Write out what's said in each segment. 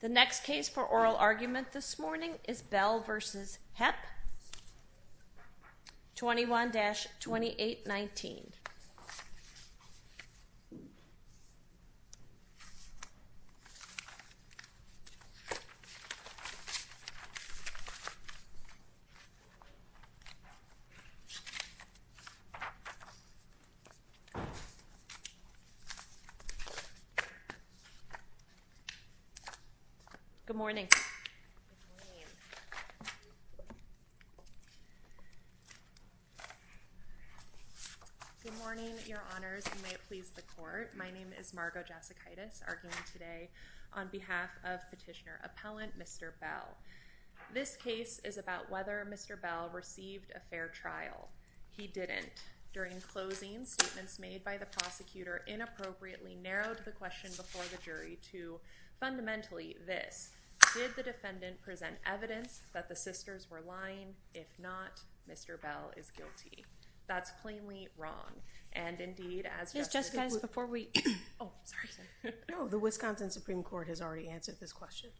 The next case for oral argument this morning is Bell v. Hepp, 21-2819. Good morning. Good morning, Your Honors, and may it please the Court. My name is Margo Jasekaitis, arguing today on behalf of petitioner-appellant Mr. Bell. This case is about whether Mr. Bell received a fair trial. He didn't. During closing, statements made by the prosecutor inappropriately narrowed the question before the jury to, fundamentally, this. Did the defendant present evidence that the sisters were lying? If not, Mr. Bell is guilty. That's plainly wrong. And, indeed, as Justice— Ms. Jasekaitis, before we—oh, sorry. No, the Wisconsin Supreme Court has already answered this question.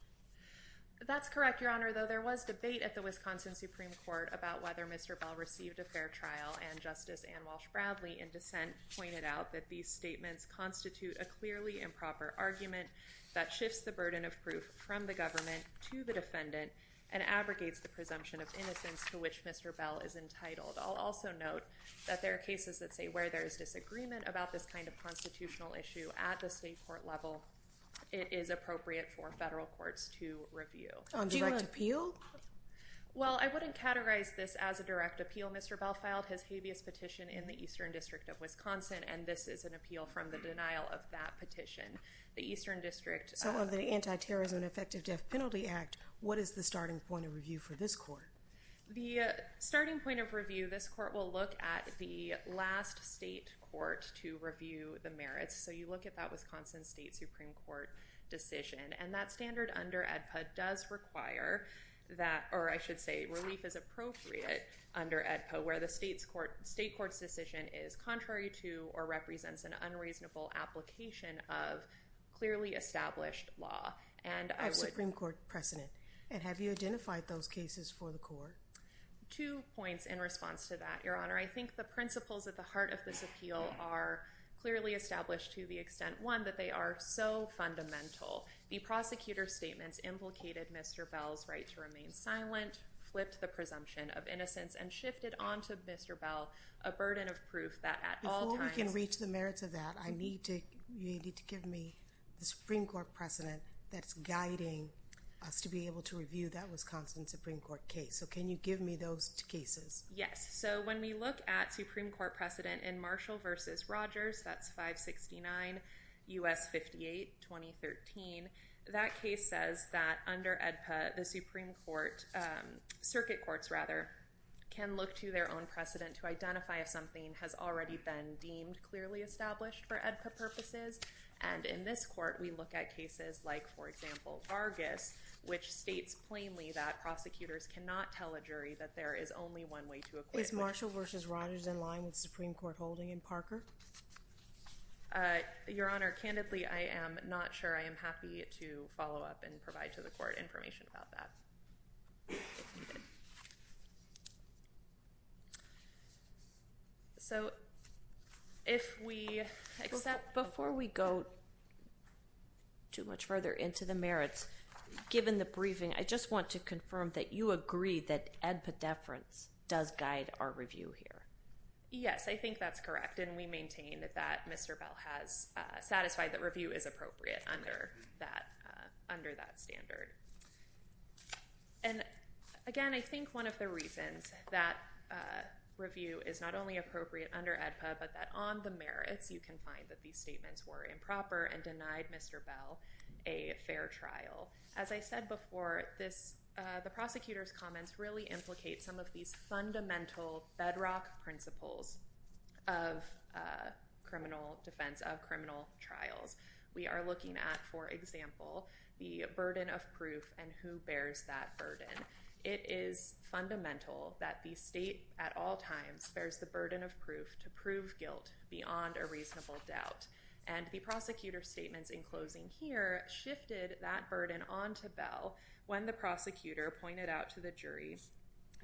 That's correct, Your Honor, though there was debate at the Wisconsin Supreme Court about whether Mr. Bell received a fair trial, and Justice Ann Walsh Bradley, in dissent, pointed out that these statements constitute a clearly improper argument that shifts the burden of proof from the government to the defendant and abrogates the presumption of innocence to which Mr. Bell is entitled. I'll also note that there are cases that say where there is disagreement about this kind of constitutional issue at the state court level, it is appropriate for federal courts to review. On direct appeal? Well, I wouldn't categorize this as a direct appeal. Mr. Bell filed his habeas petition in the Eastern District of Wisconsin, and this is an appeal from the denial of that petition. The Eastern District— So, on the Antiterrorism and Effective Death Penalty Act, what is the starting point of review for this court? The starting point of review, this court will look at the last state court to review the merits. So you look at that Wisconsin State Supreme Court decision. And that standard under AEDPA does require that—or I should say relief is appropriate under AEDPA, where the state court's decision is contrary to or represents an unreasonable application of clearly established law. And I would— Supreme Court precedent. And have you identified those cases for the court? Two points in response to that, Your Honor. I think the principles at the heart of this appeal are clearly established to the extent, one, that they are so fundamental. The prosecutor's statements implicated Mr. Bell's right to remain silent, flipped the presumption of innocence, and shifted onto Mr. Bell a burden of proof that at all times— Before we can reach the merits of that, I need to—you need to give me the Supreme Court precedent that's guiding us to be able to review that Wisconsin Supreme Court case. So can you give me those cases? Yes. So when we look at Supreme Court precedent in Marshall v. Rogers, that's 569 U.S. 58, 2013, that case says that under AEDPA, the Supreme Court—circuit courts, rather, can look to their own precedent to identify if something has already been deemed clearly established for AEDPA purposes. And in this court, we look at cases like, for example, Vargas, which states plainly that prosecutors cannot tell a jury that there is only one way to acquit. Is Marshall v. Rogers in line with Supreme Court holding in Parker? Your Honor, candidly, I am not sure. I am happy to follow up and provide to the court information about that. So if we— Before we go too much further into the merits, given the briefing, I just want to confirm that you agree that AEDPA deference does guide our review here. Yes, I think that's correct, and we maintain that Mr. Bell has satisfied that review is appropriate under that standard. And again, I think one of the reasons that review is not only appropriate under AEDPA, but that on the merits, you can find that these statements were improper and denied Mr. Bell a fair trial. As I said before, the prosecutor's comments really implicate some of these fundamental bedrock principles of criminal defense, of criminal trials. We are looking at, for example, the burden of proof and who bears that burden. It is fundamental that the state at all times bears the burden of proof to prove guilt beyond a reasonable doubt. And the prosecutor's statements in closing here shifted that burden on to Bell when the prosecutor pointed out to the jury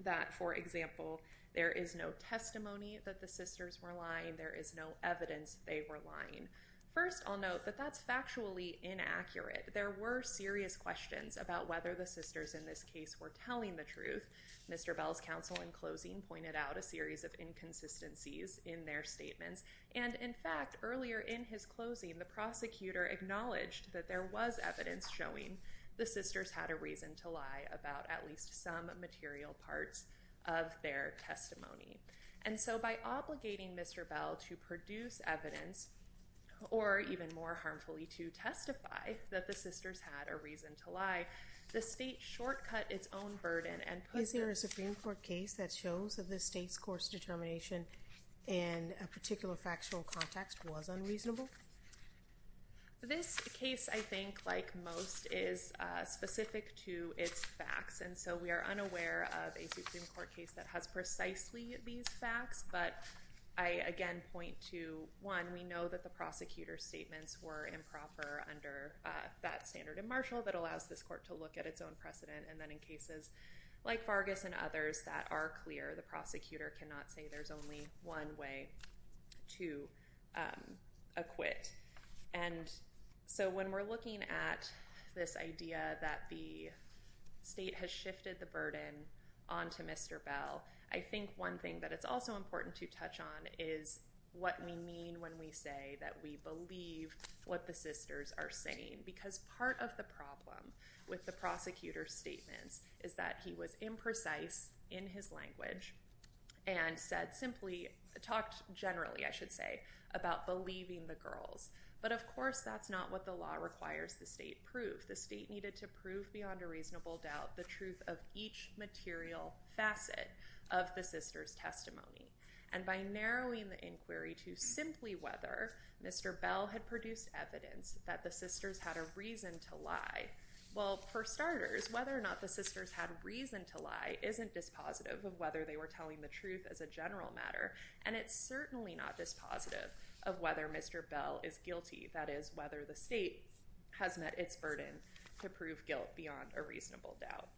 that, for example, there is no testimony that the sisters were lying, there is no evidence they were lying. First, I'll note that that's factually inaccurate. There were serious questions about whether the sisters in this case were telling the truth. Mr. Bell's counsel in closing pointed out a series of inconsistencies in their statements. And in fact, earlier in his closing, the prosecutor acknowledged that there was evidence showing the sisters had a reason to lie about at least some material parts of their testimony. And so by obligating Mr. Bell to produce evidence, or even more harmfully, to testify that the sisters had a reason to lie, the state shortcut its own burden. Is there a Supreme Court case that shows that the state's course determination in a particular factual context was unreasonable? This case, I think, like most, is specific to its facts. And so we are unaware of a Supreme Court case that has precisely these facts. But I, again, point to, one, we know that the prosecutor's statements were improper under that standard and martial that allows this court to look at its own precedent. And then in cases like Vargas and others that are clear, the prosecutor cannot say there's only one way to acquit. And so when we're looking at this idea that the state has shifted the burden onto Mr. Bell, I think one thing that it's also important to touch on is what we mean when we say that we believe what the sisters are saying. Because part of the problem with the prosecutor's statements is that he was imprecise in his language and said simply, talked generally, I should say, about believing the girls. But, of course, that's not what the law requires the state prove. The state needed to prove beyond a reasonable doubt the truth of each material facet of the sisters' testimony. And by narrowing the inquiry to simply whether Mr. Bell had produced evidence that the sisters had a reason to lie, well, for starters, whether or not the sisters had reason to lie isn't dispositive of whether they were telling the truth as a general matter. And it's certainly not dispositive of whether Mr. Bell is guilty, that is, whether the state has met its burden to prove guilt beyond a reasonable doubt.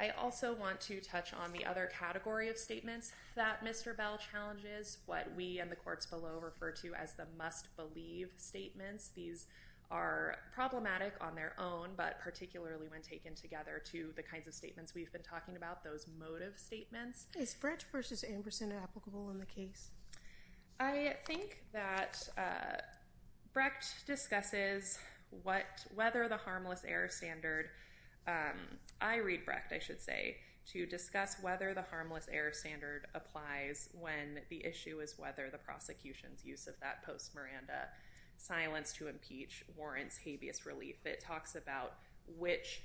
I also want to touch on the other category of statements that Mr. Bell challenges, what we in the courts below refer to as the must-believe statements. These are problematic on their own, but particularly when taken together to the kinds of statements we've been talking about, those motive statements. Is Brecht v. Amberson applicable in the case? I think that Brecht discusses whether the harmless error standard – I read Brecht, I should say – to discuss whether the harmless error standard applies when the issue is whether the prosecution's use of that post-Miranda silence to impeach warrants habeas relief. If it talks about which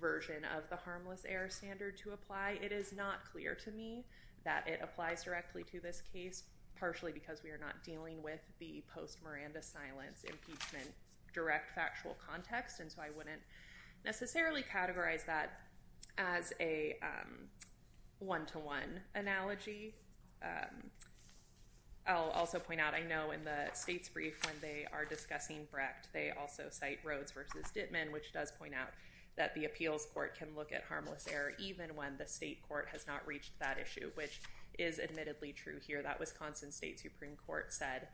version of the harmless error standard to apply, it is not clear to me that it applies directly to this case, partially because we are not dealing with the post-Miranda silence impeachment direct factual context. And so I wouldn't necessarily categorize that as a one-to-one analogy. I'll also point out, I know in the state's brief when they are discussing Brecht, they also cite Rhodes v. Dittman, which does point out that the appeals court can look at harmless error even when the state court has not reached that issue, which is admittedly true here. That Wisconsin State Supreme Court said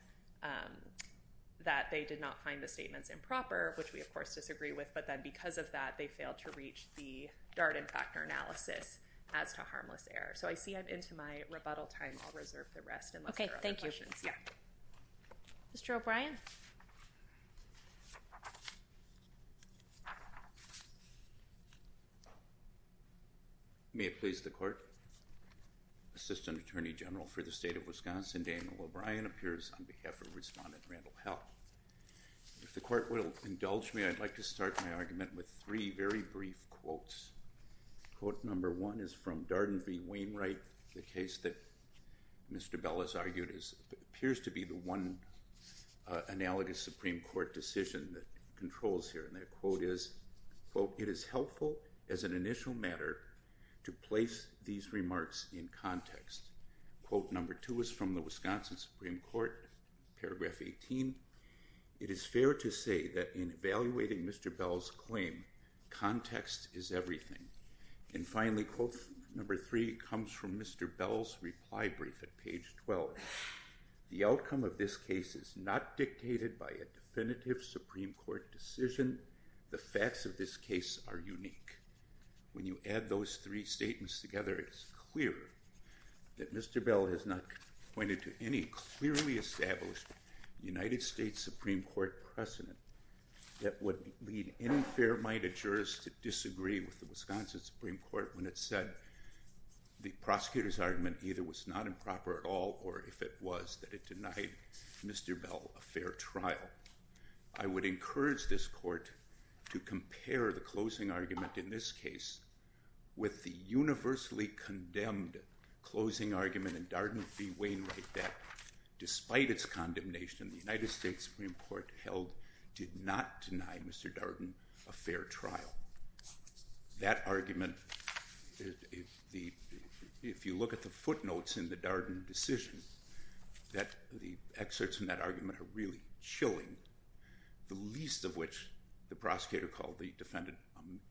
that they did not find the statements improper, which we of course disagree with, but then because of that, they failed to reach the Darden factor analysis as to harmless error. So I see I'm into my rebuttal time. I'll reserve the rest unless there are other questions. Okay, thank you. Yeah. Mr. O'Brien? May it please the Court. Assistant Attorney General for the State of Wisconsin, Daniel O'Brien, appears on behalf of Respondent Randall Hell. If the Court will indulge me, I'd like to start my argument with three very brief quotes. Quote number one is from Darden v. Wainwright, the case that Mr. Bell has argued appears to be the one analogous Supreme Court decision that controls here. And that quote is, quote, it is helpful as an initial matter to place these remarks in context. Quote number two is from the Wisconsin Supreme Court, paragraph 18. It is fair to say that in evaluating Mr. Bell's claim, context is everything. And finally, quote number three comes from Mr. Bell's reply brief at page 12. The outcome of this case is not dictated by a definitive Supreme Court decision. The facts of this case are unique. When you add those three statements together, it's clear that Mr. Bell has not pointed to any clearly established United States Supreme Court precedent that would lead any fair-minded jurist to disagree with the Wisconsin Supreme Court when it said the prosecutor's argument either was not improper at all or, if it was, that it denied Mr. Bell a fair trial. I would encourage this court to compare the closing argument in this case with the universally condemned closing argument in Darden v. Wainwright that, despite its condemnation, the United States Supreme Court held did not deny Mr. Darden a fair trial. That argument, if you look at the footnotes in the Darden decision, the excerpts in that argument are really chilling, the least of which the prosecutor called the defendant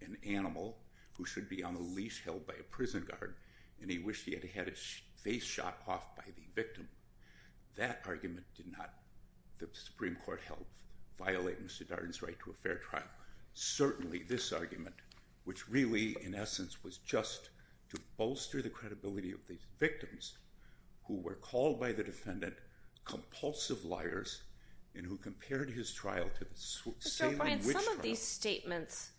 an animal who should be on a leash held by a prison guard, and he wished he had had his face shot off by the victim. That argument did not, the Supreme Court held, violate Mr. Darden's right to a fair trial. Certainly, this argument, which really, in essence, was just to bolster the credibility of these victims who were called by the defendant compulsive liars and who compared his trial to the Salem witch trial. Mr. O'Brien, some of these statements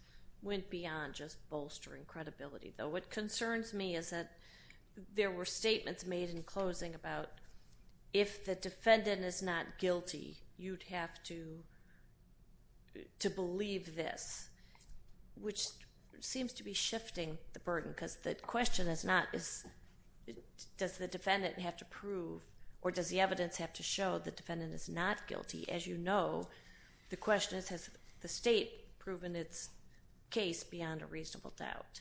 went beyond just bolstering credibility, though. What concerns me is that there were statements made in closing about if the defendant is not guilty, you'd have to believe this, which seems to be shifting the burden because the question is not does the defendant have to prove or does the evidence have to show the defendant is not guilty. As you know, the question is has the state proven its case beyond a reasonable doubt.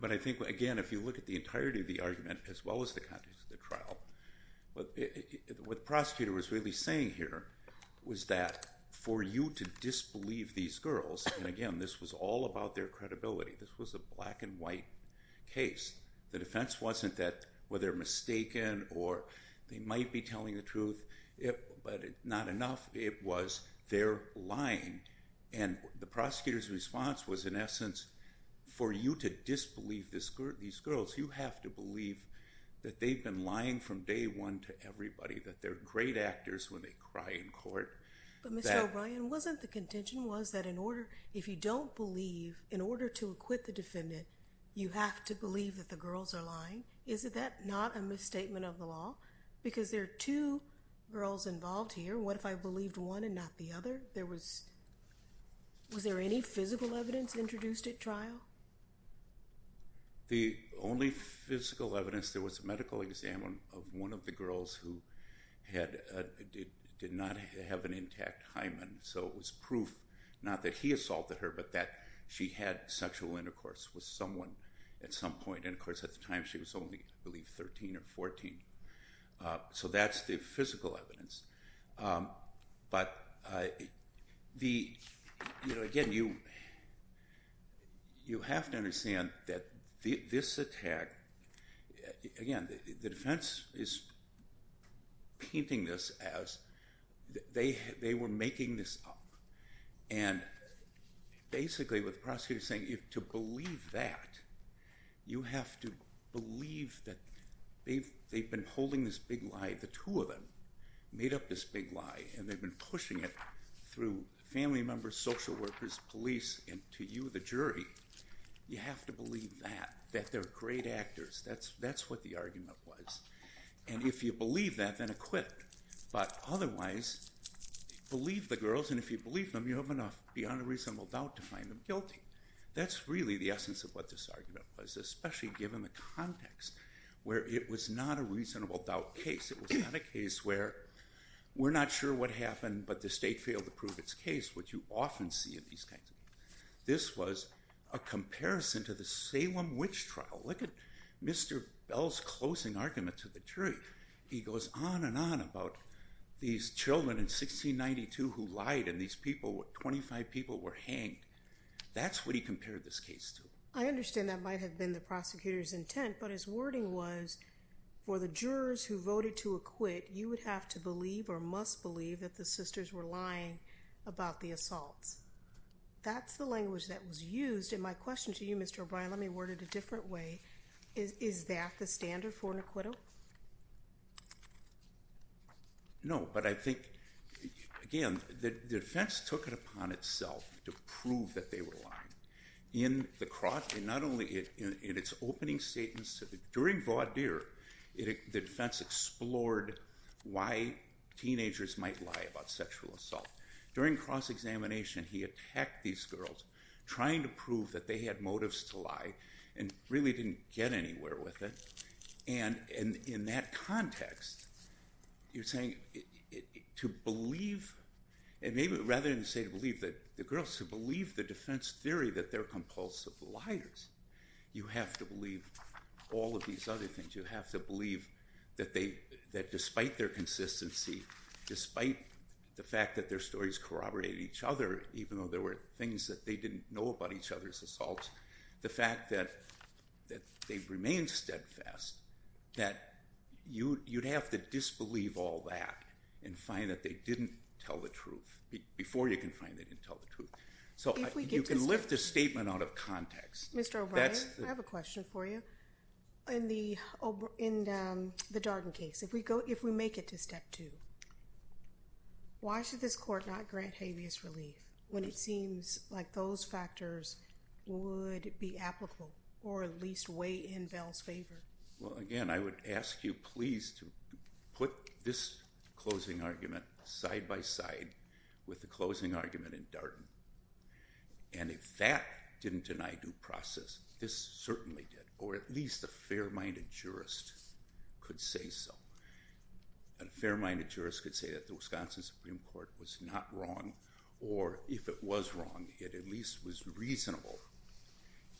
But I think, again, if you look at the entirety of the argument as well as the context of the trial, what the prosecutor was really saying here was that for you to disbelieve these girls, and again, this was all about their credibility, this was a black and white case. The defense wasn't that, well, they're mistaken or they might be telling the truth, but not enough. It was they're lying. And the prosecutor's response was, in essence, for you to disbelieve these girls, you have to believe that they've been lying from day one to everybody, that they're great actors when they cry in court. But, Mr. O'Brien, wasn't the contention was that if you don't believe, in order to acquit the defendant, you have to believe that the girls are lying? Is that not a misstatement of the law? Because there are two girls involved here. What if I believed one and not the other? Was there any physical evidence introduced at trial? The only physical evidence, there was a medical exam of one of the girls who did not have an intact hymen. So it was proof, not that he assaulted her, but that she had sexual intercourse with someone at some point. And, of course, at the time she was only, I believe, 13 or 14. So that's the physical evidence. But, again, you have to understand that this attack, again, the defense is painting this as they were making this up. And, basically, what the prosecutor's saying, to believe that, you have to believe that they've been holding this big lie, the two of them made up this big lie, and they've been pushing it through family members, social workers, police, and to you, the jury. You have to believe that, that they're great actors. That's what the argument was. And if you believe that, then acquit. But, otherwise, believe the girls, and if you believe them, you have enough beyond a reasonable doubt to find them guilty. That's really the essence of what this argument was, especially given the context where it was not a reasonable doubt case. It was not a case where we're not sure what happened, but the state failed to prove its case, which you often see in these kinds of cases. This was a comparison to the Salem Witch Trial. Look at Mr. Bell's closing argument to the jury. He goes on and on about these children in 1692 who lied, and these people, 25 people, were hanged. That's what he compared this case to. I understand that might have been the prosecutor's intent, but his wording was, for the jurors who voted to acquit, you would have to believe or must believe that the sisters were lying about the assaults. That's the language that was used, and my question to you, Mr. O'Brien, let me word it a different way. Is that the standard for an acquittal? No, but I think, again, the defense took it upon itself to prove that they were lying. In the cross, and not only in its opening statements, during Vaudeer, the defense explored why teenagers might lie about sexual assault. During cross-examination, he attacked these girls, trying to prove that they had motives to lie, and really didn't get anywhere with it. And in that context, you're saying to believe, and maybe rather than say to believe the girls, to believe the defense theory that they're compulsive liars, you have to believe all of these other things. You have to believe that despite their consistency, despite the fact that their stories corroborated each other, even though there were things that they didn't know about each other's assaults, the fact that they remained steadfast, that you'd have to disbelieve all that and find that they didn't tell the truth. Before you can find they didn't tell the truth. So you can lift a statement out of context. Mr. O'Brien, I have a question for you. In the Darden case, if we make it to step two, why should this court not grant habeas relief when it seems like those factors would be applicable, or at least weigh in Bell's favor? Well, again, I would ask you please to put this closing argument side by side with the closing argument in Darden. And if that didn't deny due process, this certainly did, or at least a fair-minded jurist could say so. A fair-minded jurist could say that the Wisconsin Supreme Court was not wrong, or if it was wrong, it at least was reasonable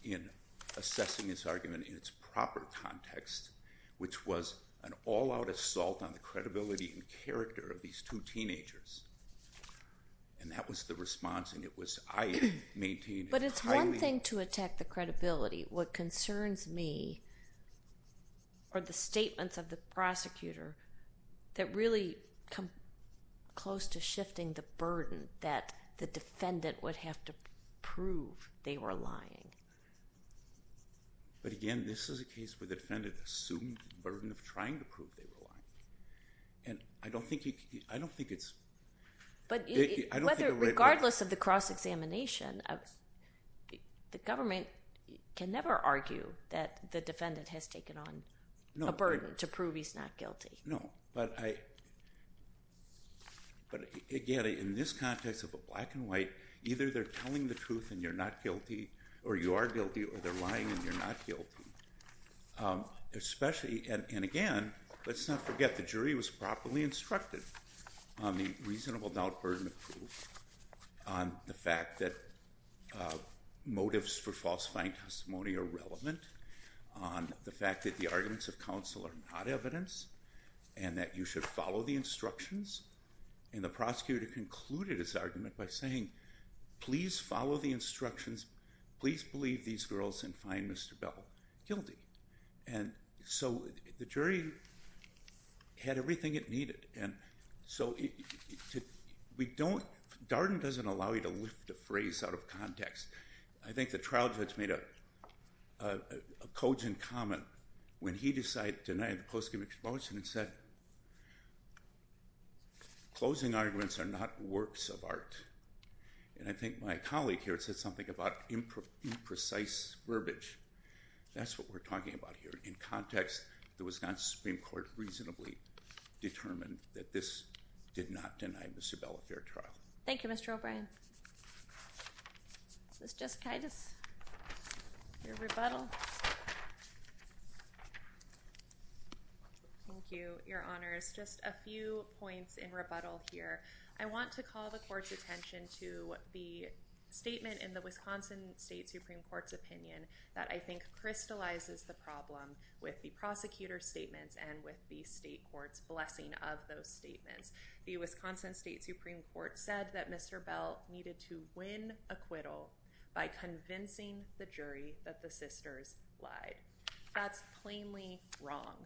in assessing this argument in its proper context, which was an all-out assault on the credibility and character of these two teenagers. And that was the response, and it was I maintained highly— But it's one thing to attack the credibility. What concerns me are the statements of the prosecutor that really come close to shifting the burden that the defendant would have to prove they were lying. But again, this is a case where the defendant assumed the burden of trying to prove they were lying. And I don't think it's— But regardless of the cross-examination, the government can never argue that the defendant has taken on a burden to prove he's not guilty. No, but again, in this context of a black and white, either they're telling the truth and you're not guilty, or you are guilty, or they're lying and you're not guilty. And again, let's not forget the jury was properly instructed on the reasonable doubt burden to prove, on the fact that motives for falsifying testimony are relevant, on the fact that the arguments of counsel are not evidence, and that you should follow the instructions. And the prosecutor concluded his argument by saying, Please follow the instructions. Please believe these girls and find Mr. Bell guilty. And so the jury had everything it needed. And so we don't—Darden doesn't allow you to lift a phrase out of context. I think the trial judge made a cogent comment when he decided to deny the post-conviction motion and said, Closing arguments are not works of art. And I think my colleague here said something about imprecise verbiage. That's what we're talking about here. In context, the Wisconsin Supreme Court reasonably determined that this did not deny Mr. Bell a fair trial. Thank you, Mr. O'Brien. Ms. Jessikaitis, your rebuttal. Thank you, Your Honors. Just a few points in rebuttal here. I want to call the court's attention to the statement in the Wisconsin State Supreme Court's opinion that I think crystallizes the problem with the prosecutor's statements and with the state court's blessing of those statements. The Wisconsin State Supreme Court said that Mr. Bell needed to win acquittal by convincing the jury that the sisters lied. That's plainly wrong.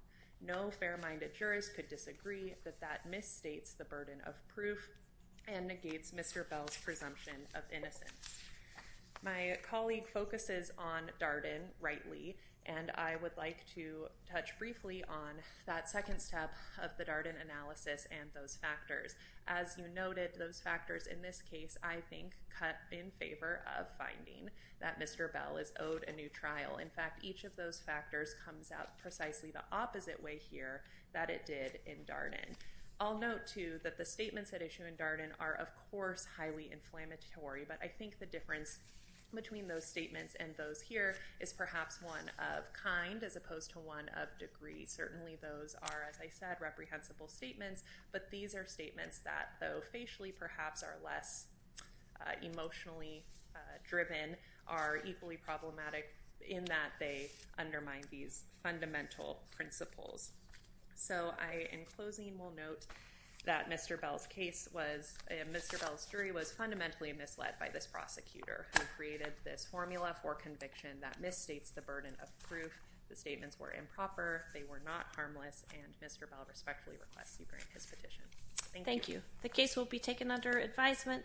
No fair-minded jurist could disagree that that misstates the burden of proof and negates Mr. Bell's presumption of innocence. My colleague focuses on Darden, rightly, and I would like to touch briefly on that second step of the Darden analysis and those factors. As you noted, those factors in this case, I think, cut in favor of finding that Mr. Bell is owed a new trial. In fact, each of those factors comes out precisely the opposite way here that it did in Darden. I'll note, too, that the statements at issue in Darden are, of course, highly inflammatory, but I think the difference between those statements and those here is perhaps one of kind as opposed to one of degree. Certainly those are, as I said, reprehensible statements, but these are statements that, though facially perhaps are less emotionally driven, are equally problematic in that they undermine these fundamental principles. So I, in closing, will note that Mr. Bell's case was—Mr. Bell's jury was fundamentally misled by this prosecutor who created this formula for conviction that misstates the burden of proof. The statements were improper. They were not harmless, and Mr. Bell respectfully requests you grant his petition. Thank you. Thank you. The case will be taken under advisement.